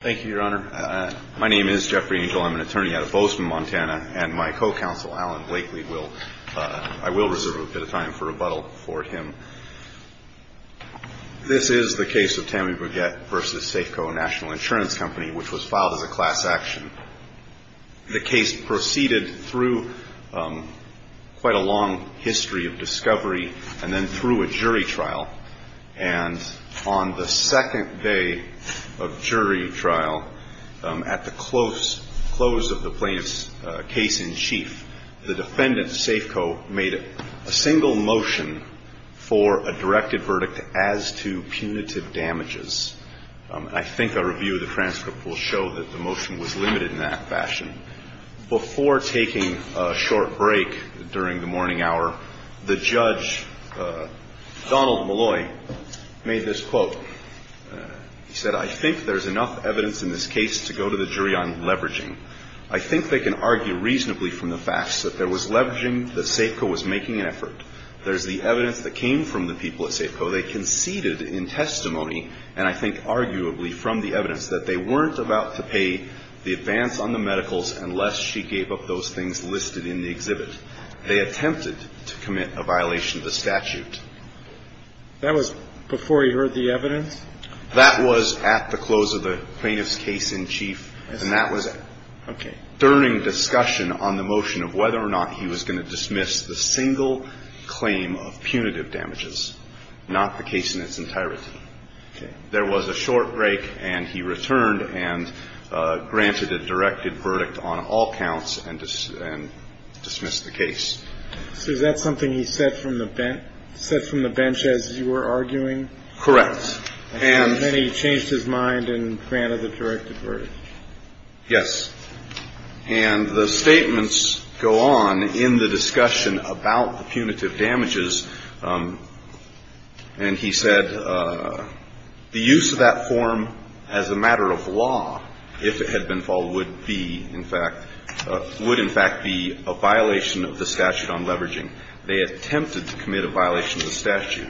Thank you, Your Honor. My name is Jeffrey Angel. I'm an attorney out of Bozeman, Montana, and my co-counsel, Alan Blakely, I will reserve a bit of time for rebuttal for him. This is the case of Tammy Brugette v. Safeco National Insurance Company, which was filed as a class action. The case proceeded through quite a long history of discovery and then through a jury trial. And on the second day of jury trial, at the close of the plaintiff's case in chief, the defendant, Safeco, made a single motion for a directed verdict as to punitive damages. I think a review of the transcript will show that the motion was limited in that Donald Malloy made this quote. He said, I think there's enough evidence in this case to go to the jury on leveraging. I think they can argue reasonably from the facts that there was leveraging, that Safeco was making an effort. There's the evidence that came from the people at Safeco. They conceded in testimony, and I think arguably from the evidence, that they weren't about to pay the advance on the medicals unless she gave up those things listed in the exhibit. They attempted to commit a statute. That was before he heard the evidence? That was at the close of the plaintiff's case in chief, and that was during discussion on the motion of whether or not he was going to dismiss the single claim of punitive damages, not the case in its entirety. There was a short break, and he returned and granted a directed verdict on all counts and dismissed the case. So is that something he said from the bench as you were arguing? Correct. And then he changed his mind and granted the directed verdict? Yes. And the statements go on in the discussion about the punitive damages, and he said, the use of that form as a matter of law, if it had been followed, would in fact be a violation of the statute on leveraging. They attempted to commit a violation of the statute.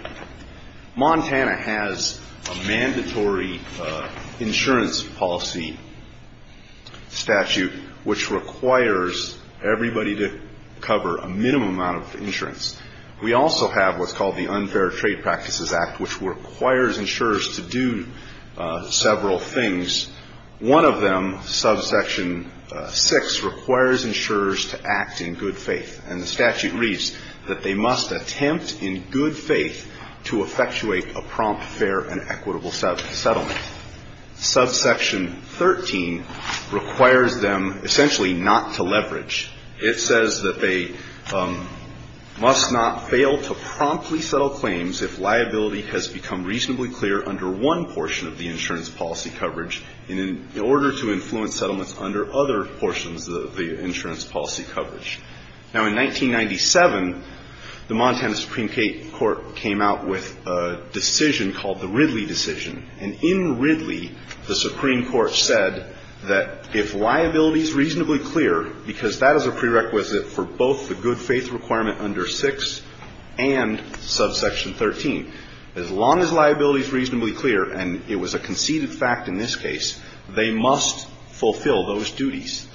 Montana has a mandatory insurance policy statute which requires everybody to cover a minimum amount of insurance. We also have what's called the Unfair Trade Practices Act, which requires insurers to do several things. One of them, subsection 6, requires insurers to act in good faith. And the statute reads that they must attempt in good faith to effectuate a prompt, fair, and equitable settlement. Subsection 13 requires them essentially not to leverage. It says that they must not fail to promptly settle claims if liability has become reasonably clear under one portion of the insurance policy coverage in order to influence settlements under other portions of the insurance policy coverage. Now, in 1997, the Montana Supreme Court came out with a decision called the Ridley decision. And in Ridley, the Supreme Court said that if liability is reasonably clear, because that is a prerequisite for both the good faith requirement under 6 and subsection 13, as long as liability is reasonably clear, and it was a conceded fact in this case, they must fulfill those duties.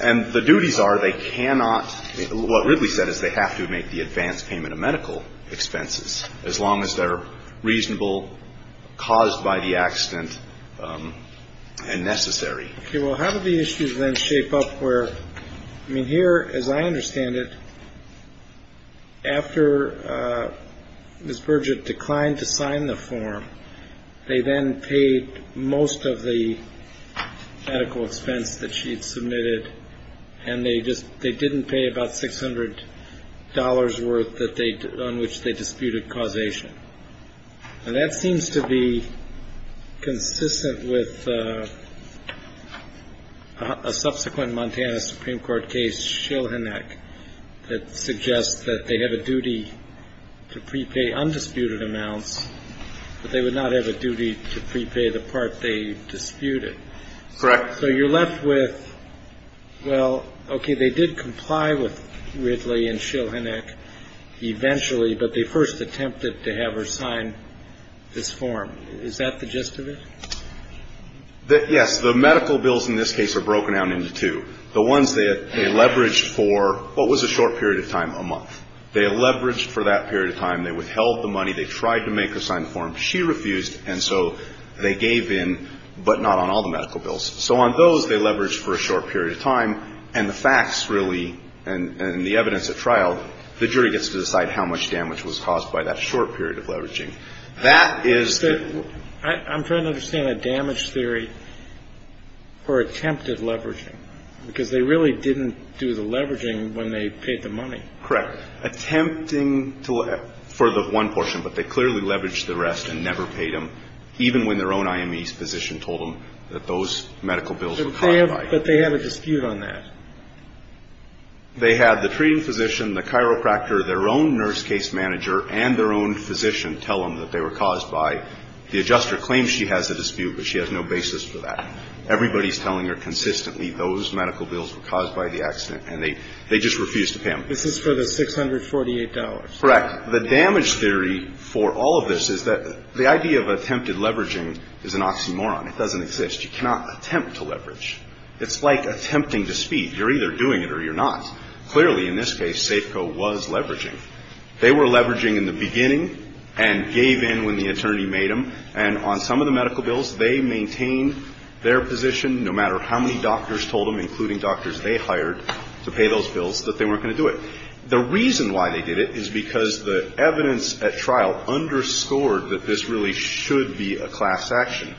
And the duties are they cannot – what Ridley said is they have to make the advance payment of medical expenses as long as they're reasonable, caused by the accident, and necessary. Okay. Well, how do the issues then shape up where – I mean, here, as I understand it, after Ms. Burgett declined to sign the form, they then paid most of the medical expense that she had submitted, and they just – they didn't pay about $600 worth that they – on which they disputed causation. And that seems to be consistent with a subsequent Montana Supreme Court case, Shilhanek, that suggests that they have a duty to prepay undisputed amounts, but they would not have a duty to prepay the part they disputed. Correct. So you're left with, well, okay, they did comply with Ridley and Shilhanek eventually, but they first attempted to have her sign this form. Is that the gist of it? Yes. The medical bills in this case are broken down into two. The ones they leveraged for what was a short period of time, a month. They leveraged for that period of time. They withheld the money. They tried to make her sign the form. She refused, and so they gave in, but not on all the medical bills. So on those, they leveraged for a short period of time, and the facts really, and the evidence at trial, the jury gets to decide how much damage was caused by that short period of leveraging. That is the – I'm trying to understand a damage theory for attempted leveraging, because they really didn't do the leveraging when they paid the money. Correct. Attempting to – for the one portion, but they clearly leveraged the rest and never paid them, even when their own IME's physician told them that those medical bills were caused by – But they have a dispute on that. They had the treating physician, the chiropractor, their own nurse case manager, and their own claims she has a dispute, but she has no basis for that. Everybody's telling her consistently those medical bills were caused by the accident, and they just refused to pay them. This is for the $648. Correct. The damage theory for all of this is that the idea of attempted leveraging is an oxymoron. It doesn't exist. You cannot attempt to leverage. It's like attempting to speak. You're either doing it or you're not. Clearly, in this case, Safeco was leveraging. They were leveraging in the beginning and gave in when the attorney made them, and on some of the medical bills, they maintained their position, no matter how many doctors told them, including doctors they hired to pay those bills, that they weren't going to do it. The reason why they did it is because the evidence at trial underscored that this really should be a class action.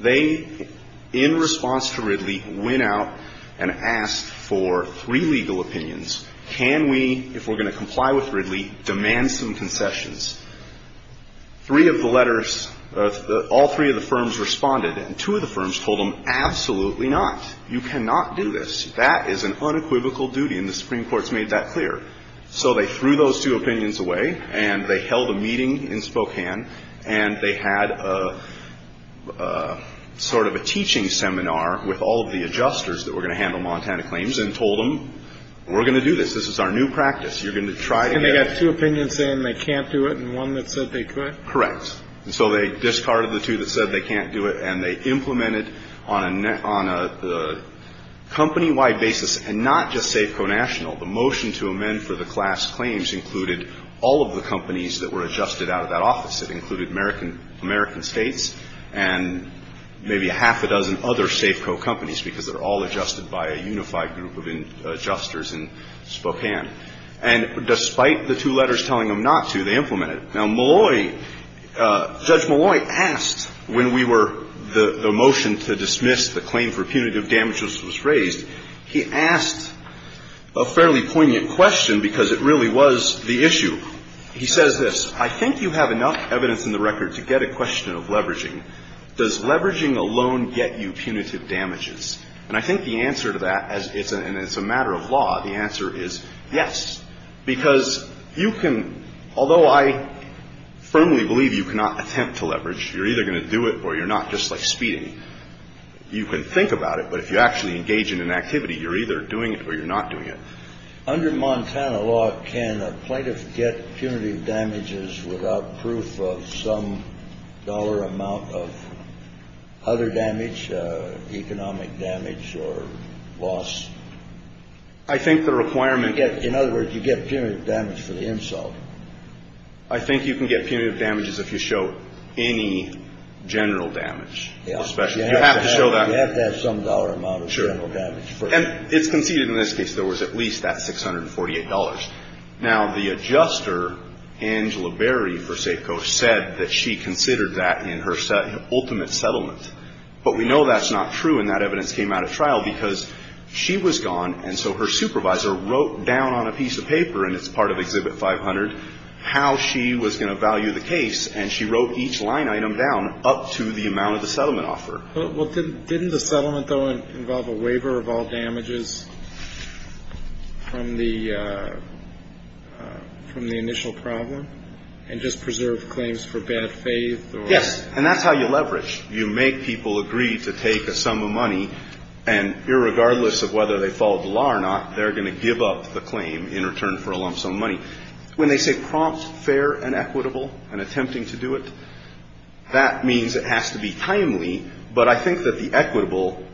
They, in response to Ridley, went out and asked for three legal opinions. Can we, if we're going to comply with Ridley, demand some concessions? Three of the letters, all three of the firms responded, and two of the firms told them, absolutely not. You cannot do this. That is an unequivocal duty, and the Supreme Court's made that clear. So they threw those two opinions away, and they held a meeting in Spokane, and they had a sort of a teaching seminar with all of the adjusters that were going to handle Montana claims, and told them, we're going to do this. This is our new practice. You're going to try to get it. And they got two opinions saying they can't do it, and one that said they could? Correct. And so they discarded the two that said they can't do it, and they implemented on a company-wide basis, and not just Safeco National. The motion to amend for the class claims included all of the companies that were adjusted out of that office. It included American States and maybe a half a dozen other Safeco companies, because they're all adjusted by a unified group of adjusters in Spokane. And despite the two letters telling them not to, they implemented. Now, Malloy – Judge Malloy asked when we were – the motion to dismiss the claim for punitive damages was raised. He asked a fairly poignant question, because it really was the issue. He says this. I think you have enough evidence in the record to get a question of leveraging. Does leveraging alone get you punitive damages? And I think the answer to that, and it's a matter of law, the answer is yes, because you can – although I firmly believe you cannot attempt to leverage, you're either going to do it or you're not, just like speeding. You can think about it, but if you actually engage in an activity, you're either doing it or you're not doing it. Under Montana law, can a plaintiff get punitive damages without proof of some dollar amount of other damage, economic damage or loss? I think the requirement – In other words, you get punitive damage for the insult. I think you can get punitive damages if you show any general damage, especially. You have to show that – You have to have some dollar amount of general damage. Sure. And it's conceded in this case there was at least that $648. Now, the adjuster, Angela Berry for Safeco, said that she considered that in her ultimate settlement. But we know that's not true, and that evidence came out of trial, because she was gone, and so her supervisor wrote down on a piece of paper, and it's part of Exhibit 500, how she was going to value the case, and she wrote each line item down up to the amount of the settlement offer. Well, didn't the settlement, though, involve a waiver of all damages from the initial problem, and just preserve claims for bad faith or – Yes. And that's how you leverage. You make people agree to take a sum of money, and irregardless of whether they follow the law or not, they're going to give up the claim in return for a lump sum of money. When they say prompt, fair and equitable, and attempting to do it, that means it has to be timely. But I think that the equitable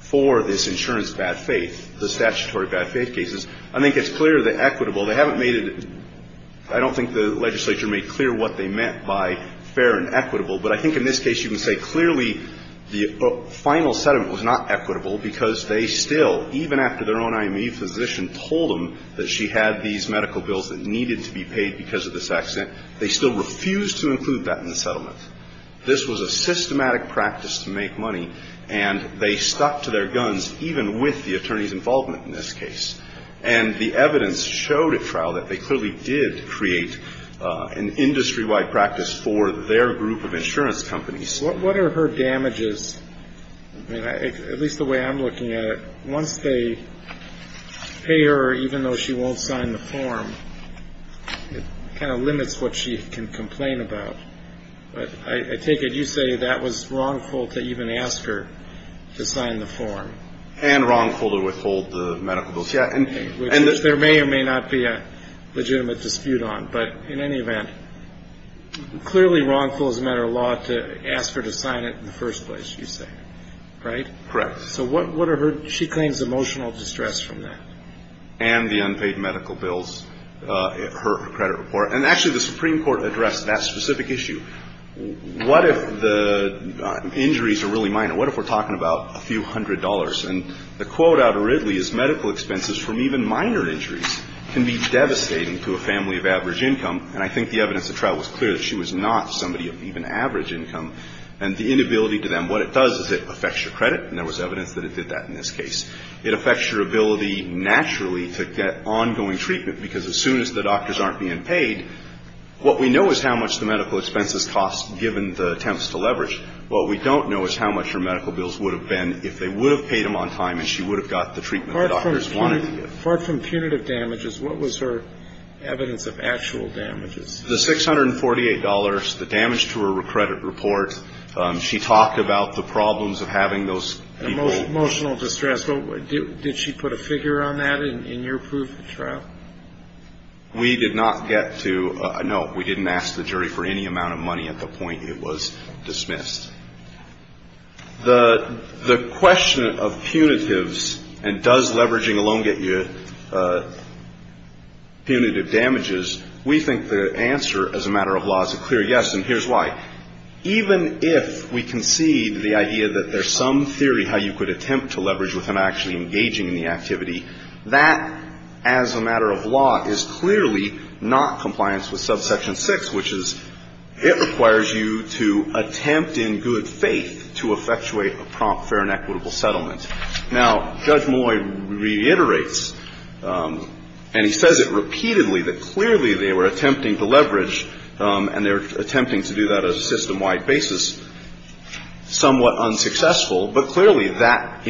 for this insurance bad faith, the statutory bad faith cases, I think it's clear that equitable, they haven't made it – I don't think the legislature made clear what they meant by fair and equitable, but I think in this case you can say clearly the final settlement was not equitable, because they still, even after their own IME physician told them that she had these medical bills that needed to be paid because of this accident, they still refused to include that in the settlement. This was a systematic practice to make money, and they stuck to their guns, even with the attorney's involvement in this case. And the evidence showed at trial that they clearly did create an industry-wide practice for their group of insurance companies. What are her damages, at least the way I'm looking at it, once they pay her even though she won't sign the form, it kind of limits what she can complain about. But I take it you say that was wrongful to even ask her to sign the form. And wrongful to withhold the medical bills. Which there may or may not be a legitimate dispute on, but in any event, clearly wrongful is a matter of law to ask her to sign it in the first place, you say, right? Correct. So what are her – she claims emotional distress from that. And the unpaid medical bills, her credit report. And actually the Supreme Court addressed that specific issue. What if the injuries are really minor? What if we're talking about a few hundred dollars? And the quote out of Ridley is, medical expenses from even minor injuries can be devastating to a family of average income. And I think the evidence at trial was clear that she was not somebody of even average income. And the inability to them – what it does is it affects your credit, and there was evidence that it did that in this case. It affects your ability naturally to get ongoing treatment, because as soon as the doctors aren't being paid, what we know is how much the medical expenses cost given the attempts to leverage. What we don't know is how much her medical bills would have been if they would have paid them on time, and she would have got the treatment the doctors wanted to give. Apart from punitive damages, what was her evidence of actual damages? The $648, the damage to her credit report. She talked about the problems of having those people – Emotional distress. Did she put a figure on that in your proof of trial? We did not get to – no, we didn't ask the jury for any amount of money at the point it was dismissed. The question of punitives and does leveraging alone get you punitive damages, we think the answer as a matter of law is a clear yes, and here's why. Even if we concede the idea that there's some theory how you could attempt to leverage without actually engaging in the activity, that, as a matter of law, is clearly not compliance with subsection 6, which is it requires you to attempt in good faith to effectuate a prompt, fair and equitable settlement. Now, Judge Malloy reiterates, and he says it repeatedly, that clearly they were attempting to leverage, and they were attempting to do that on a system-wide basis, somewhat unsuccessful, but clearly that,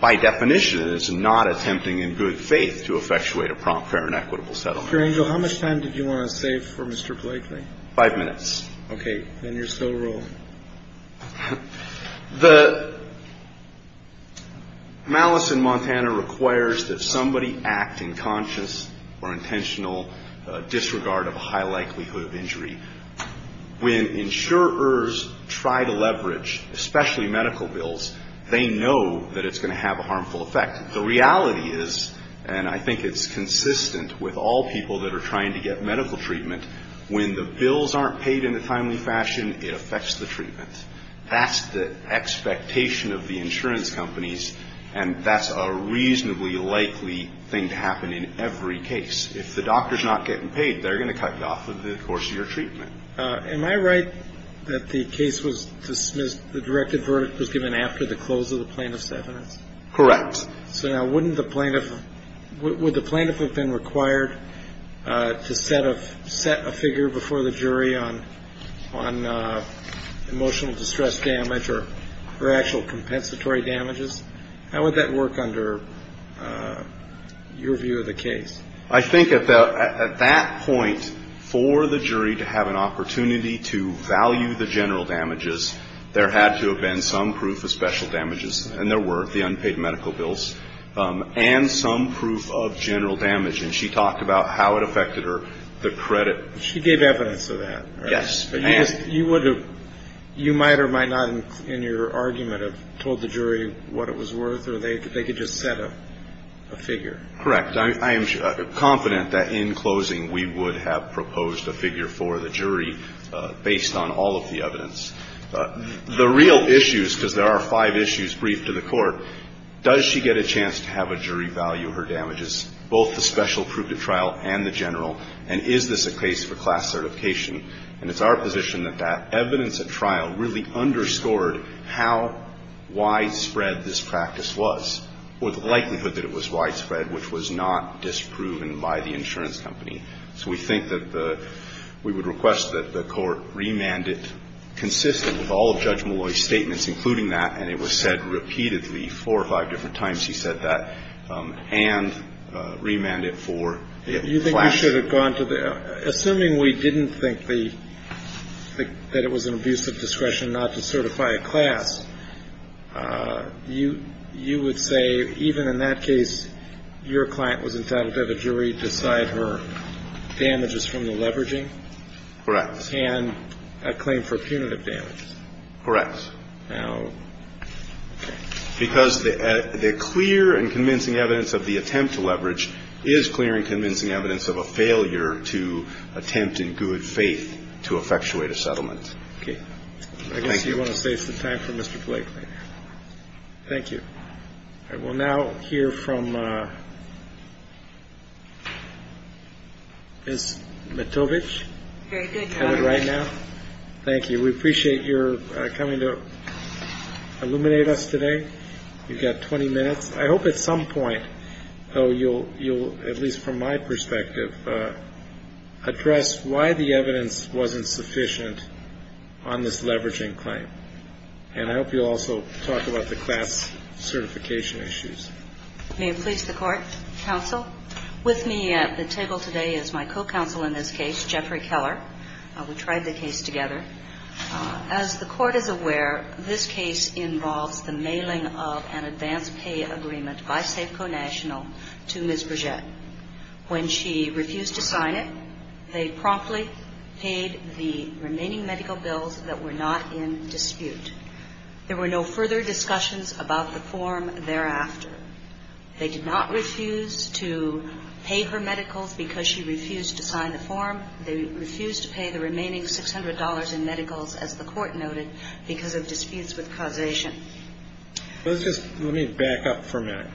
by definition, is not attempting in good faith to effectuate a prompt, fair and equitable settlement. Dr. Angel, how much time did you want to save for Mr. Blakely? Five minutes. Okay. Then you're still rolling. The malice in Montana requires that somebody act in conscious or intentional disregard of a high likelihood of injury. When insurers try to leverage, especially medical bills, they know that it's going to have a harmful effect. The reality is, and I think it's consistent with all people that are trying to get medical treatment, when the bills aren't paid in a timely fashion, it affects the treatment. That's the expectation of the insurance companies, and that's a reasonably likely thing to happen in every case. If the doctor's not getting paid, they're going to cut you off of the course of your treatment. Am I right that the case was dismissed, the directive verdict was given after the close of the plaintiff's evidence? Correct. So now, wouldn't the plaintiff, would the plaintiff have been required to set a figure before the jury on emotional distress damage or actual compensatory damages? How would that work under your view of the case? I think at that point, for the jury to have an opportunity to value the general damages, there had to have been some proof of special damages, and there were. The plaintiff had been paid medical bills, and some proof of general damage, and she talked about how it affected her, the credit. She gave evidence of that, right? Yes. You would have, you might or might not in your argument have told the jury what it was worth, or they could just set a figure? Correct. I am confident that in closing, we would have proposed a figure for the jury based on all of the evidence. The real issues, because there are five issues briefed to the court, does she get a chance to have a jury value her damages, both the special proof at trial and the general, and is this a case for class certification? And it's our position that that evidence at trial really underscored how widespread this practice was, or the likelihood that it was widespread, which was not disproven by the insurance company. So we think that the, we would request that the court remand it consistent with all of Judge Molloy's statements, including that, and it was said repeatedly four or five different times he said that, and remand it for the class. You think we should have gone to the, assuming we didn't think the, that it was an abuse of discretion not to certify a class, you would say even in that case, your client was entitled to have a jury decide her damages from the leveraging? Correct. And a claim for punitive damages? Correct. Now, okay. Because the clear and convincing evidence of the attempt to leverage is clear and convincing evidence of a failure to attempt in good faith to effectuate a settlement. Okay. Thank you. I guess you want to save some time for Mr. Blake later. Thank you. All right. We'll now hear from Ms. Matovich. Very good, Your Honor. I would write now. Thank you. We appreciate your coming to illuminate us today. You've got 20 minutes. I hope at some point, though, you'll, at least from my perspective, address why the evidence wasn't sufficient on this leveraging claim. And I hope you'll also talk about the class certification issues. May it please the Court, counsel. With me at the table today is my co-counsel in this case, Jeffrey Keller. We tried the case together. As the Court is aware, this case involves the mailing of an advance pay agreement by Safeco National to Ms. Bourget. When she refused to sign it, they promptly paid the remaining medical bills that were not in dispute. There were no further discussions about the form thereafter. They did not refuse to pay her medicals because she refused to sign the form. They refused to pay the remaining $600 in medicals, as the Court noted, because of disputes with causation. Let's just let me back up for a minute.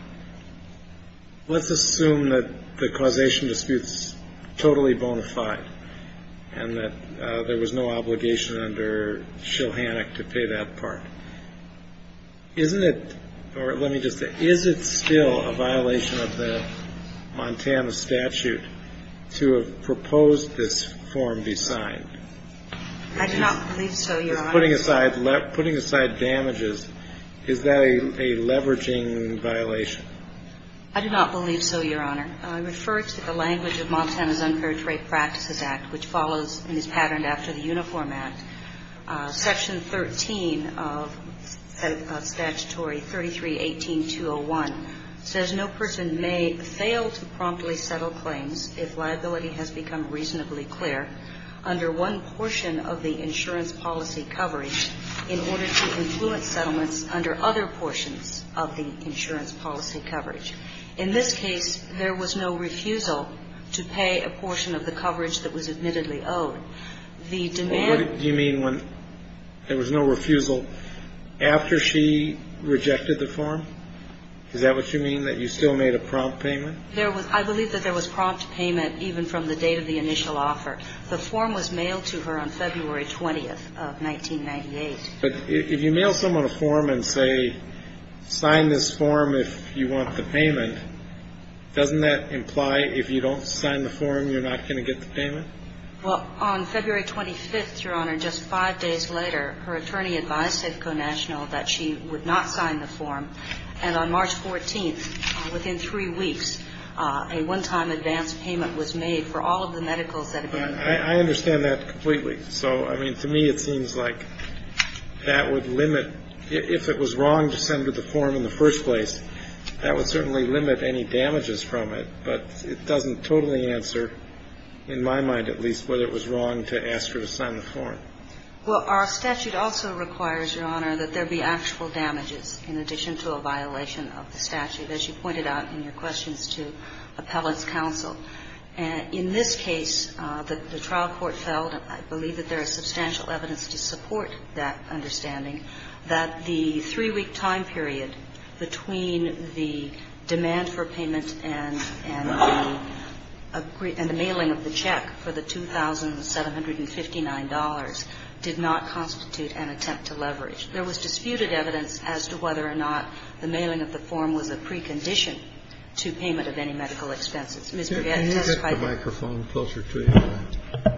Let's assume that the causation dispute is totally bona fide and that there was no obligation under Shilhannock to pay that part. Isn't it, or let me just say, is it still a violation of the Montana statute to have this form be signed? I do not believe so, Your Honor. Putting aside damages, is that a leveraging violation? I do not believe so, Your Honor. I refer to the language of Montana's Unparentage Rape Practices Act, which follows and is patterned after the Uniform Act. Section 13 of statutory 33-18-201 says no person may fail to promptly settle claims if liability has become reasonably clear under one portion of the insurance policy coverage in order to influence settlements under other portions of the insurance policy coverage. In this case, there was no refusal to pay a portion of the coverage that was admittedly owed. The demand... What do you mean when there was no refusal after she rejected the form? Is that what you mean, that you still made a prompt payment? There was, I believe that there was prompt payment even from the date of the initial offer. The form was mailed to her on February 20th of 1998. But if you mail someone a form and say, sign this form if you want the payment, doesn't that imply if you don't sign the form, you're not going to get the payment? Well, on February 25th, Your Honor, just five days later, her attorney advised Safeco National that she would not sign the form. And on March 14th, within three weeks, a one-time advance payment was made for all of the medicals that had been... I understand that completely. So, I mean, to me, it seems like that would limit, if it was wrong to send her the form in the first place, that would certainly limit any damages from it. But it doesn't totally answer, in my mind at least, whether it was wrong to ask her to sign the form. Well, our statute also requires, Your Honor, that there be actual damages in addition to a violation of the statute, as you pointed out in your questions to appellant's counsel. In this case, the trial court felt, and I believe that there is substantial evidence to support that understanding, that the three-week time period between the demand for payment and the mailing of the check for the $2,759 did not constitute an attempt to leverage. There was disputed evidence as to whether or not the mailing of the form was a precondition to payment of any medical expenses. Ms. Breguet testified... Can you get the microphone closer to you?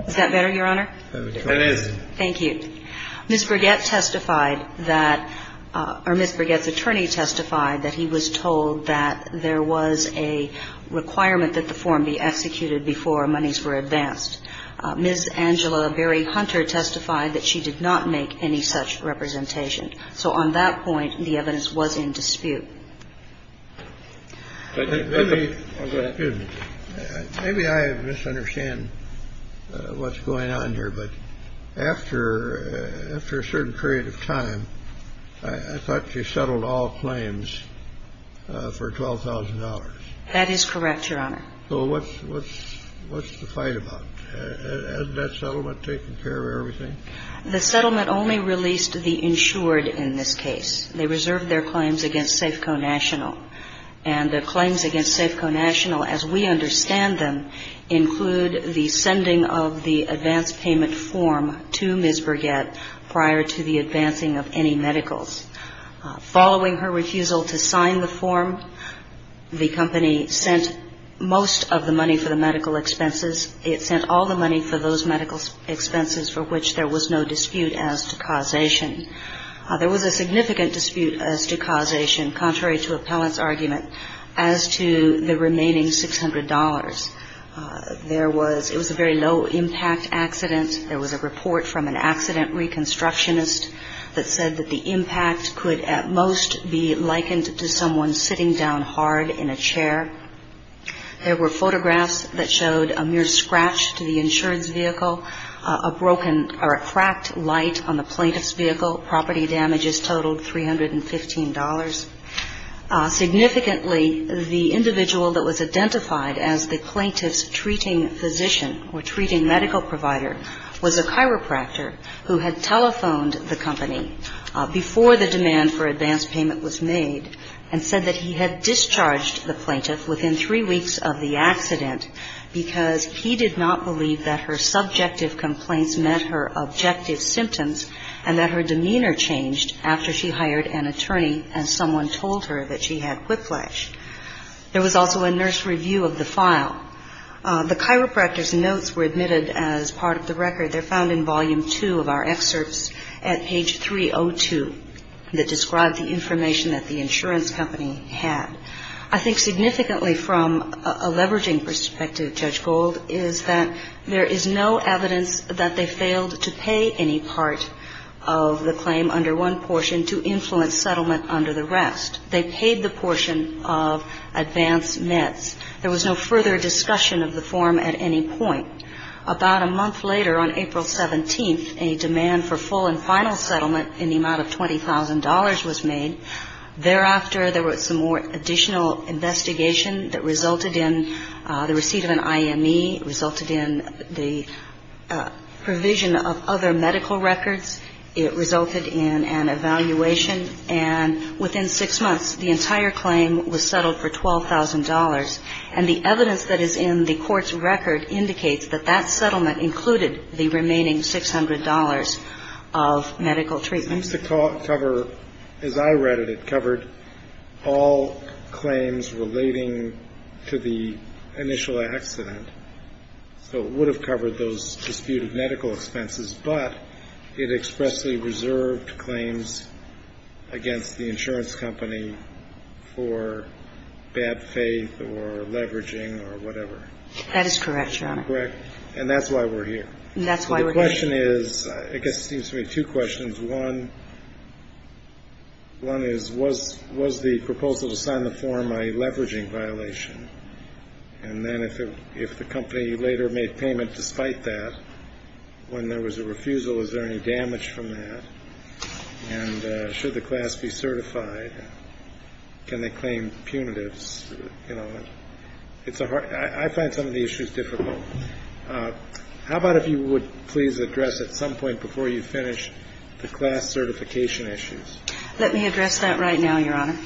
Is that better, Your Honor? It is. Thank you. Ms. Breguet testified that or Ms. Breguet's attorney testified that he was told that there was a requirement that the form be executed before monies were advanced. Ms. Angela Berry Hunter testified that she did not make any such representation. So on that point, the evidence was in dispute. Maybe I misunderstand what's going on here. But after a certain period of time, I thought she settled all claims for $12,000. That is correct, Your Honor. So what's the fight about? Has that settlement taken care of everything? The settlement only released the insured in this case. They reserved their claims against Safeco National. And the claims against Safeco National, as we understand them, include the sending of the advance payment form to Ms. Breguet prior to the advancing of any medicals. Following her refusal to sign the form, the company sent most of the money for the medical expenses. It sent all the money for those medical expenses for which there was no dispute as to causation. There was a significant dispute as to causation, contrary to appellant's argument, as to the remaining $600. There was – it was a very low-impact accident. There was a report from an accident reconstructionist that said that the impact could at most be likened to someone sitting down hard in a chair. There were photographs that showed a mere scratch to the insurance vehicle, a broken or a cracked light on the plaintiff's vehicle. Property damages totaled $315. Significantly, the individual that was identified as the plaintiff's treating physician or treating medical provider was a chiropractor who had telephoned the company before the demand for advance payment was made and said that he had discharged the plaintiff within three weeks of the accident because he did not believe that her subjective complaints met her objective symptoms and that her demeanor changed after she hired an attorney and someone told her that she had whiplash. There was also a nurse review of the file. The chiropractor's notes were admitted as part of the record. They're found in volume two of our excerpts at page 302 that describe the information that the insurance company had. I think significantly from a leveraging perspective, Judge Gold, is that there is no evidence that they failed to pay any part of the claim under one portion to influence settlement under the rest. They paid the portion of advance nets. There was no further discussion of the form at any point. About a month later on April 17th, a demand for full and final settlement in the amount of $20,000 was made. Thereafter, there was some more additional investigation that resulted in the receipt of an IME, resulted in the provision of other medical records. It resulted in an evaluation. And within six months, the entire claim was settled for $12,000. And the evidence that is in the court's record indicates that that settlement included the remaining $600 of medical treatments. To cover, as I read it, it covered all claims relating to the initial accident. So it would have covered those disputed medical expenses, but it expressly reserved claims against the insurance company for bad faith or leveraging or whatever. That is correct, Your Honor. Correct. And that's why we're here. That's why we're here. The question is, I guess it seems to me, two questions. One is, was the proposal to sign the form a leveraging violation? And then if the company later made payment despite that, when there was a refusal, is there any damage from that? And should the class be certified? Can they claim punitives? You know, it's a hard – I find some of the issues difficult. How about if you would please address at some point before you finish the class certification issues? Let me address that right now, Your Honor.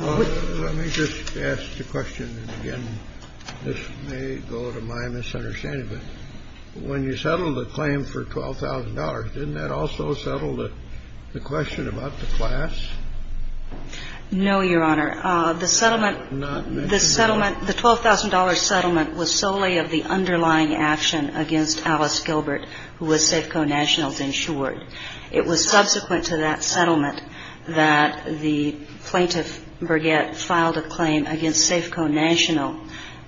Let me just ask the question again. This may go to my misunderstanding, but when you settled the claim for $12,000, didn't that also settle the question about the class? No, Your Honor. The settlement – the $12,000 settlement was solely of the underlying action against Alice Gilbert, who was Safeco Nationals insured. It was subsequent to that settlement that the plaintiff, Burgett, filed a claim against Safeco National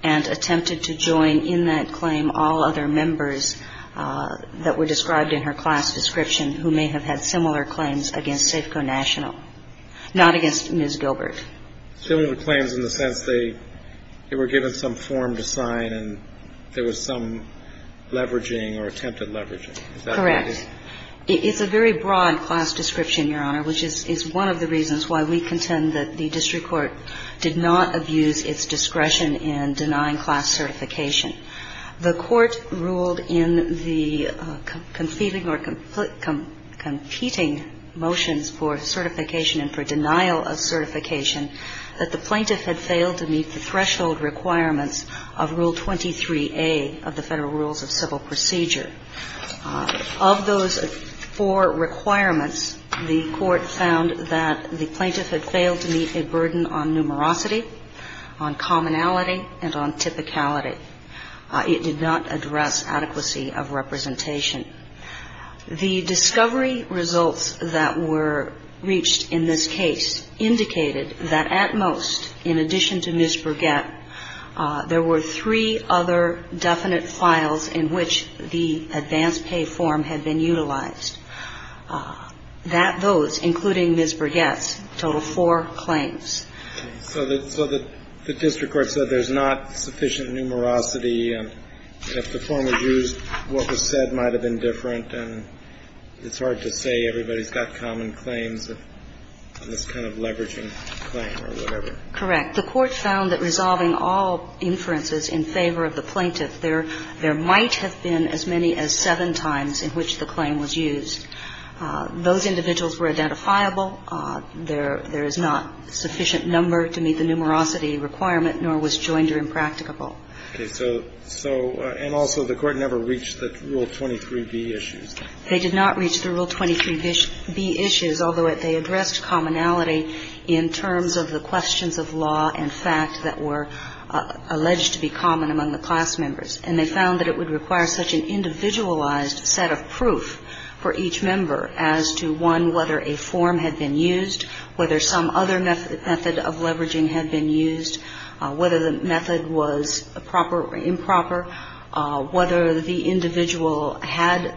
and attempted to join in that claim all other members that were described in her class description who may have had similar claims against Safeco National, not against Ms. Gilbert. Similar claims in the sense they were given some form to sign and there was some leveraging or attempted leveraging. Correct. It's a very broad class description, Your Honor, which is one of the reasons why we contend that the district court did not abuse its discretion in denying class certification. The court ruled in the competing motions for certification and for denial of certification that the plaintiff had failed to meet the threshold requirements of Rule 23A of the Federal Rules of Civil Procedure. Of those four requirements, the court found that the plaintiff had failed to meet a burden on numerosity, on commonality, and on typicality. It did not address adequacy of representation. The discovery results that were reached in this case indicated that at most, in addition to Ms. Burgett, there were three other definite files in which the advance pay form had been utilized. Those, including Ms. Burgett's, total four claims. So the district court said there's not sufficient numerosity. If the form was used, what was said might have been different. And it's hard to say. Everybody's got common claims on this kind of leveraging claim or whatever. Correct. The court found that resolving all inferences in favor of the plaintiff, there might have been as many as seven times in which the claim was used. Those individuals were identifiable. There is not sufficient number to meet the numerosity requirement, nor was Joinder impracticable. Okay. So, and also the court never reached the Rule 23B issues. They did not reach the Rule 23B issues, although they addressed commonality in terms of the questions of law and fact that were alleged to be common among the class members. And they found that it would require such an individualized set of proof for each member as to one, whether a form had been used, whether some other method of leveraging had been used, whether the method was proper or improper, whether the individual had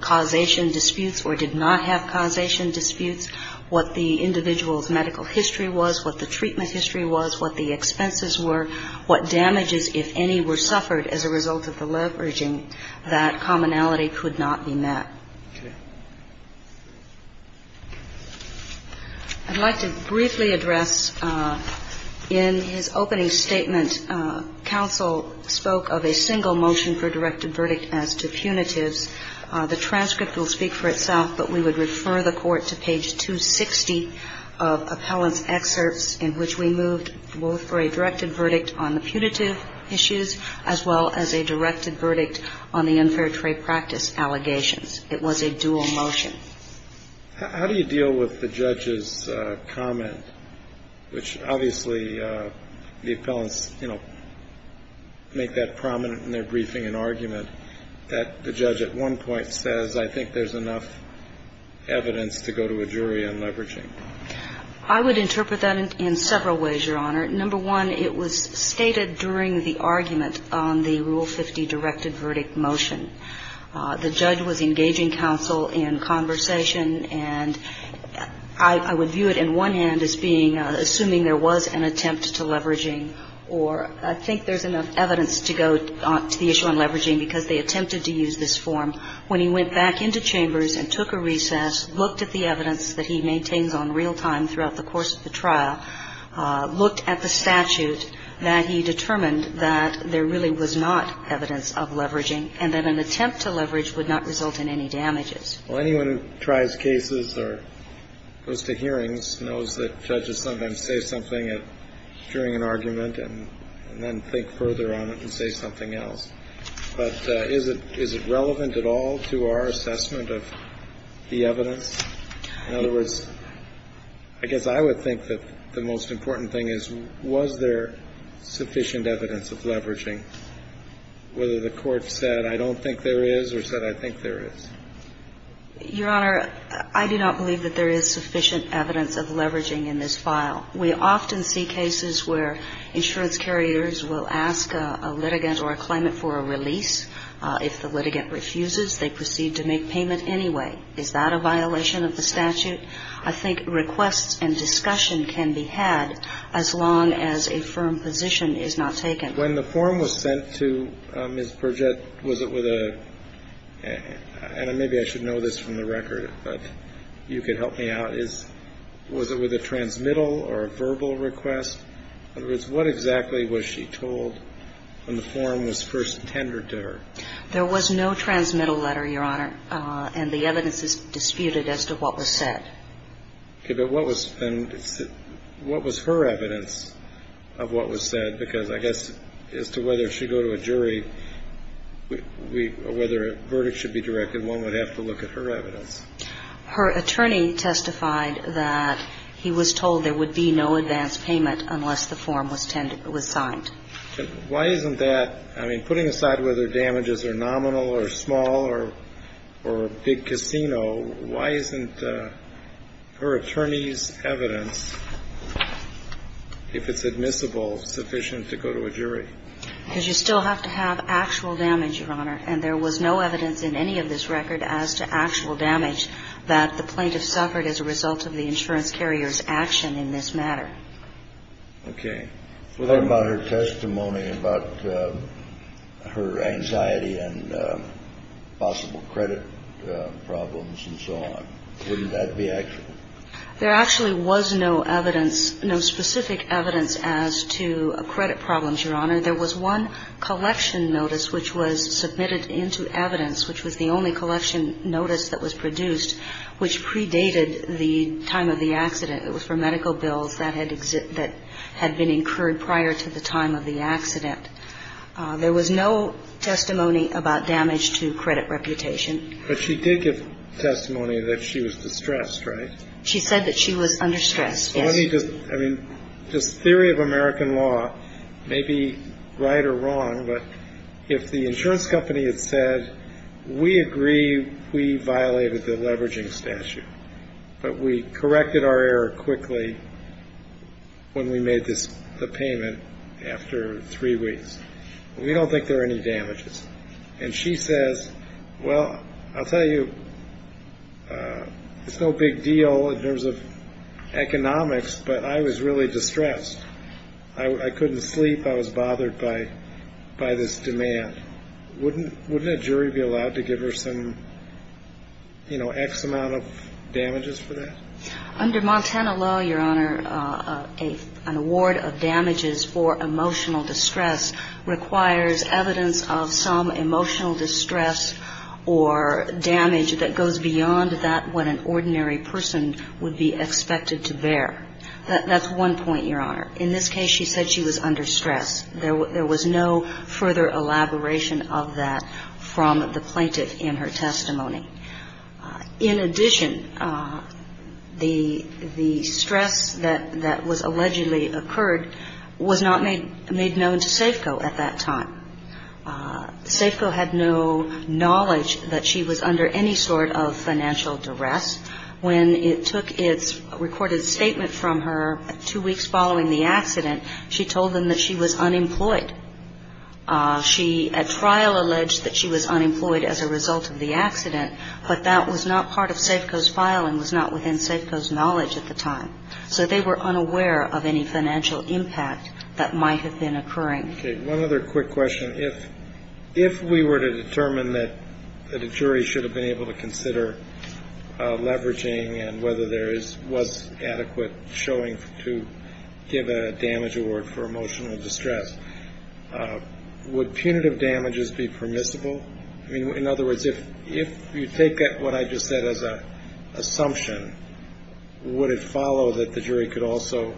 causation disputes or did not have causation disputes, what the individual's medical history was, what the treatment history was, what the expenses were, what damages, if any, were suffered as a result of the leveraging, that commonality could not be met. Okay. I'd like to briefly address in his opening statement, counsel spoke of a single motion for directed verdict as to punitives. The transcript will speak for itself, but we would refer the court to page 260 of appellant's excerpts in which we moved both for a directed verdict on the punitive issues, as well as a directed verdict on the unfair trade practice allegations. It was a dual motion. How do you deal with the judge's comment, which obviously the appellants, you know, make that prominent in their briefing and argument, that the judge at one point says, I think there's enough evidence to go to a jury on leveraging? I would interpret that in several ways, Your Honor. Number one, it was stated during the argument on the Rule 50 directed verdict motion. The judge was engaging counsel in conversation, and I would view it in one hand assuming there was an attempt to leveraging, or I think there's enough evidence to go to the issue on leveraging because they attempted to use this form. When he went back into chambers and took a recess, looked at the evidence that he maintains on real time throughout the course of the trial, looked at the statute, that he determined that there really was not evidence of leveraging, and that an attempt to leverage would not result in any damages. Well, anyone who tries cases or goes to hearings knows that judges sometimes say something during an argument and then think further on it and say something else. But is it relevant at all to our assessment of the evidence? In other words, I guess I would think that the most important thing is, was there sufficient evidence of leveraging? Whether the court said, I don't think there is, or said, I think there is. Your Honor, I do not believe that there is sufficient evidence of leveraging in this file. We often see cases where insurance carriers will ask a litigant or a claimant for a release. If the litigant refuses, they proceed to make payment anyway. Is that a violation of the statute? I think requests and discussion can be had as long as a firm position is not taken. When the form was sent to Ms. Perget, was it with a, and maybe I should know this from the record, but you could help me out, was it with a transmittal or a verbal request? In other words, what exactly was she told when the form was first tendered to her? There was no transmittal letter, Your Honor, and the evidence is disputed as to what was said. Okay, but what was then, what was her evidence of what was said? Because I guess as to whether she go to a jury, whether a verdict should be directed, one would have to look at her evidence. Her attorney testified that he was told there would be no advance payment unless the form was signed. Why isn't that, I mean, putting aside whether damages are nominal or small or big casino, why isn't her attorney's evidence, if it's admissible, sufficient to go to a jury? Because you still have to have actual damage, Your Honor, and there was no evidence in any of this record as to actual damage that the plaintiff suffered as a result of the insurance carrier's action in this matter. Okay. What about her testimony about her anxiety and possible credit problems and so on? Wouldn't that be accurate? There actually was no evidence, no specific evidence as to credit problems, Your Honor. There was one collection notice which was submitted into evidence, which was the only collection notice that was produced, which predated the time of the accident. It was for medical bills that had been incurred prior to the time of the accident. There was no testimony about damage to credit reputation. But she did give testimony that she was distressed, right? She said that she was under stress, yes. Well, let me just, I mean, this theory of American law may be right or wrong, but if the insurance company had said, we agree we violated the leveraging statute, but we corrected our error quickly when we made the payment after three weeks, we don't think there are any damages. And she says, well, I'll tell you, it's no big deal in terms of economics, but I was really distressed. I couldn't sleep. I was bothered by this demand. Wouldn't a jury be allowed to give her some, you know, X amount of damages for that? Under Montana law, Your Honor, an award of damages for emotional distress requires evidence of some emotional distress or damage that goes beyond that what an ordinary person would be expected to bear. That's one point, Your Honor. In this case, she said she was under stress. There was no further elaboration of that from the plaintiff in her testimony. In addition, the stress that was allegedly occurred was not made known to Safeco at that time. Safeco had no knowledge that she was under any sort of financial duress. When it took its recorded statement from her two weeks following the accident, she told them that she was unemployed. She at trial alleged that she was unemployed as a result of the accident, but that was not part of Safeco's filing, was not within Safeco's knowledge at the time. So they were unaware of any financial impact that might have been occurring. One other quick question. If if we were to determine that the jury should have been able to consider leveraging and whether there was adequate showing to give a damage award for emotional distress, would punitive damages be permissible? I mean, in other words, if you take what I just said as an assumption, would it follow that the jury could also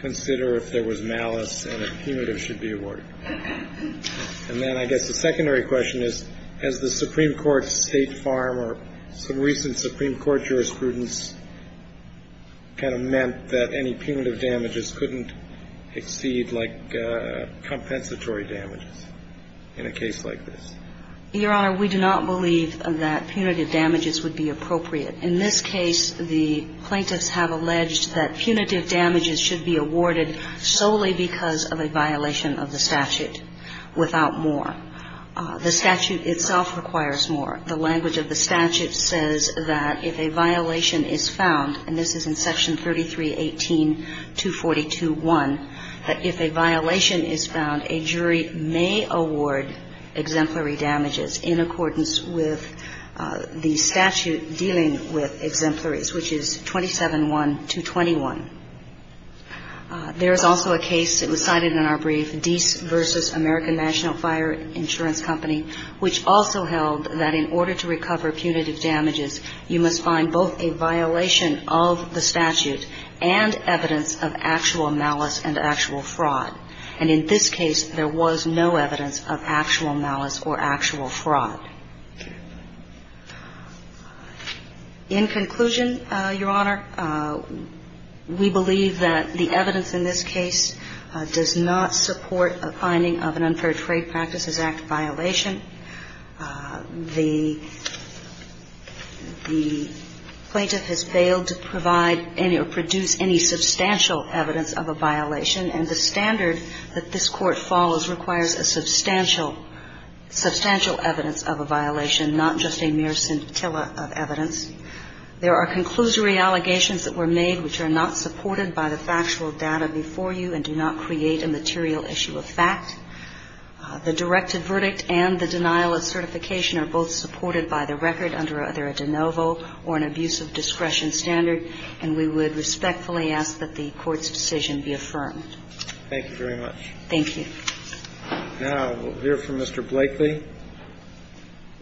consider if there was malice and a punitive should be awarded? And then I guess the secondary question is, has the Supreme Court State Farm or some recent Supreme Court jurisprudence kind of meant that any punitive damages couldn't exceed like compensatory damages in a case like this? Your Honor, we do not believe that punitive damages would be appropriate. In this case, the plaintiffs have alleged that punitive damages should be awarded solely because of a violation of the statute without more. The statute itself requires more. The language of the statute says that if a violation is found, and this is in Section 3318-242-1, that if a violation is found, a jury may award exemplary damages in accordance with the statute dealing with exemplaries, which is 27-1-221. There is also a case that was cited in our brief, Dease v. American National Fire Insurance Company, which also held that in order to recover punitive damages, you must find both a violation of the statute and evidence of actual malice and actual fraud. And in this case, there was no evidence of actual malice or actual fraud. In conclusion, Your Honor, we believe that the evidence in this case does not support a finding of an Unfair Trade Practices Act violation. The plaintiff has failed to provide any or produce any substantial evidence of a violation, and the standard that this Court follows requires a substantial, substantial evidence of a violation, not just a mere scintilla of evidence. There are conclusory allegations that were made which are not supported by the factual data before you and do not create a material issue of fact. The directed verdict and the denial of certification are both supported by the record under either a de novo or an abuse of discretion standard, and we would respectfully ask that the Court's decision be affirmed. Thank you very much. Thank you. Now we'll hear from Mr. Blakely,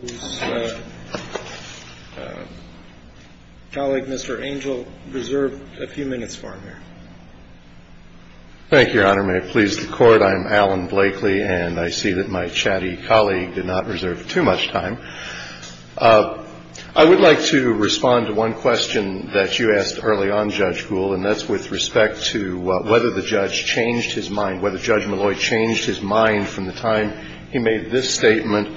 whose colleague, Mr. Angel, reserved a few minutes for him here. Thank you, Your Honor, may it please the Court. I'm Alan Blakely, and I see that my chatty colleague did not reserve too much time. I would like to respond to one question that you asked early on, Judge Gould, and that's with respect to whether the judge changed his mind, whether Judge Malloy changed his mind from the time he made this statement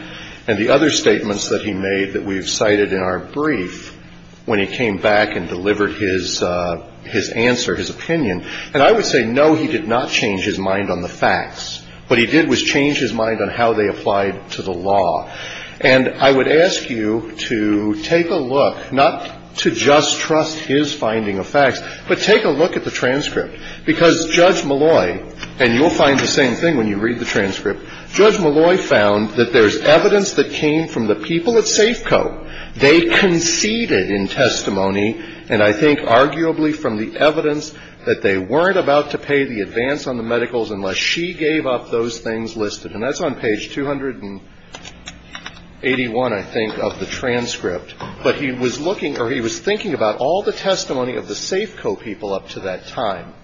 and the other statements that he made that we've cited in our brief when he came back and delivered his answer, his opinion. And I would say, no, he did not change his mind on the facts. What he did was change his mind on how they applied to the law. And I would ask you to take a look, not to just trust his finding of facts, but take a look at the transcript. Because Judge Malloy, and you'll find the same thing when you read the transcript, Judge Malloy found that there's evidence that came from the people at Safeco. They conceded in testimony, and I think arguably from the evidence, that they weren't about to pay the advance on the medicals unless she gave up those things listed. And that's on page 281, I think, of the transcript. But he was looking, or he was thinking about all the testimony of the Safeco people up to that time.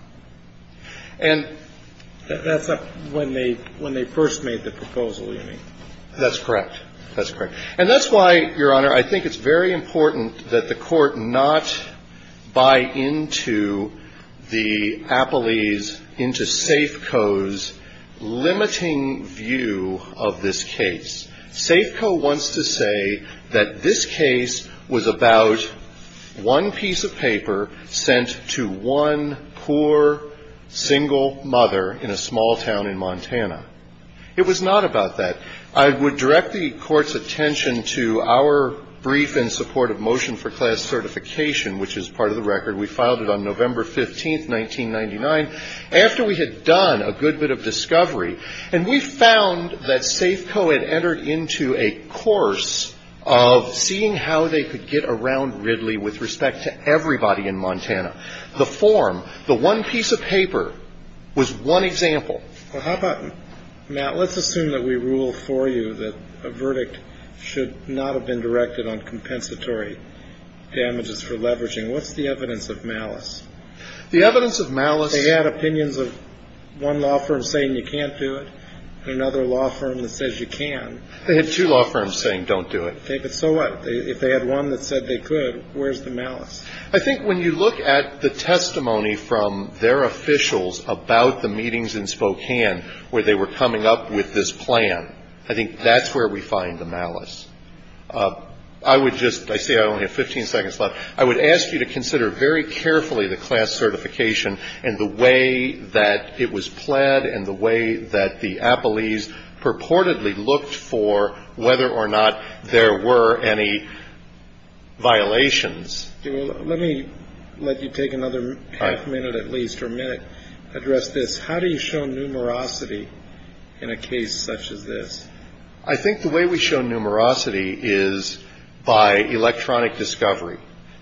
And... That's when they first made the proposal, you mean? That's correct. That's correct. And that's why, Your Honor, I think it's very important that the Court not buy into the appellees, into Safeco's limiting view of this case. Safeco wants to say that this case was about one piece of paper sent to one poor, single mother in a small town in Montana. It was not about that. I would direct the Court's attention to our brief in support of Motion for Class Certification, which is part of the record. We filed it on November 15, 1999, after we had done a good bit of discovery. And we found that Safeco had entered into a course of seeing how they could get around Ridley with respect to everybody in Montana. The form, the one piece of paper, was one example. Well, how about, Matt, let's assume that we rule for you that a verdict should not have been directed on compensatory damages for leveraging. What's the evidence of malice? The evidence of malice... Well, they had opinions of one law firm saying you can't do it and another law firm that says you can. They had two law firms saying don't do it. Okay, but so what? If they had one that said they could, where's the malice? I think when you look at the testimony from their officials about the meetings in Spokane where they were coming up with this plan, I think that's where we find the malice. I would just... I see I only have 15 seconds left. I would ask you to consider very carefully the class certification and the way that it was pled and the way that the appellees purportedly looked for whether or not there were any violations. Let me let you take another half minute at least or a minute, address this. How do you show numerosity in a case such as this? I think the way we show numerosity is by electronic discovery.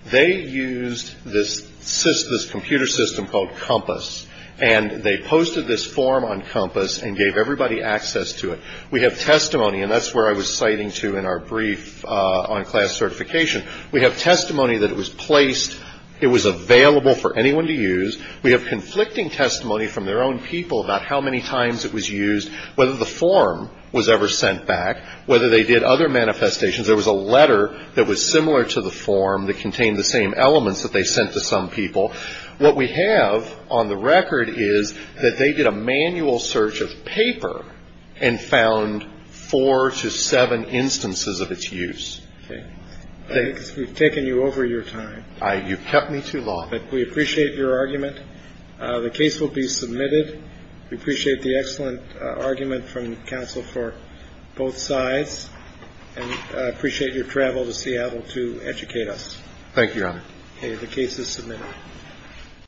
They used this computer system called Compass and they posted this form on Compass and gave everybody access to it. We have testimony, and that's where I was citing to in our brief on class certification. We have testimony that it was placed, it was available for anyone to use. We have conflicting testimony from their own people about how many times it was used, whether the form was ever sent back, whether they did other manifestations. There was a letter that was similar to the form that contained the same elements that they sent to some people. What we have on the record is that they did a manual search of paper and found four to seven instances of its use. We've taken you over your time. You've kept me too long. We appreciate your argument. The case will be submitted. We appreciate the excellent argument from counsel for both sides and appreciate your travel to Seattle to educate us. Thank you, Your Honor. The case is submitted.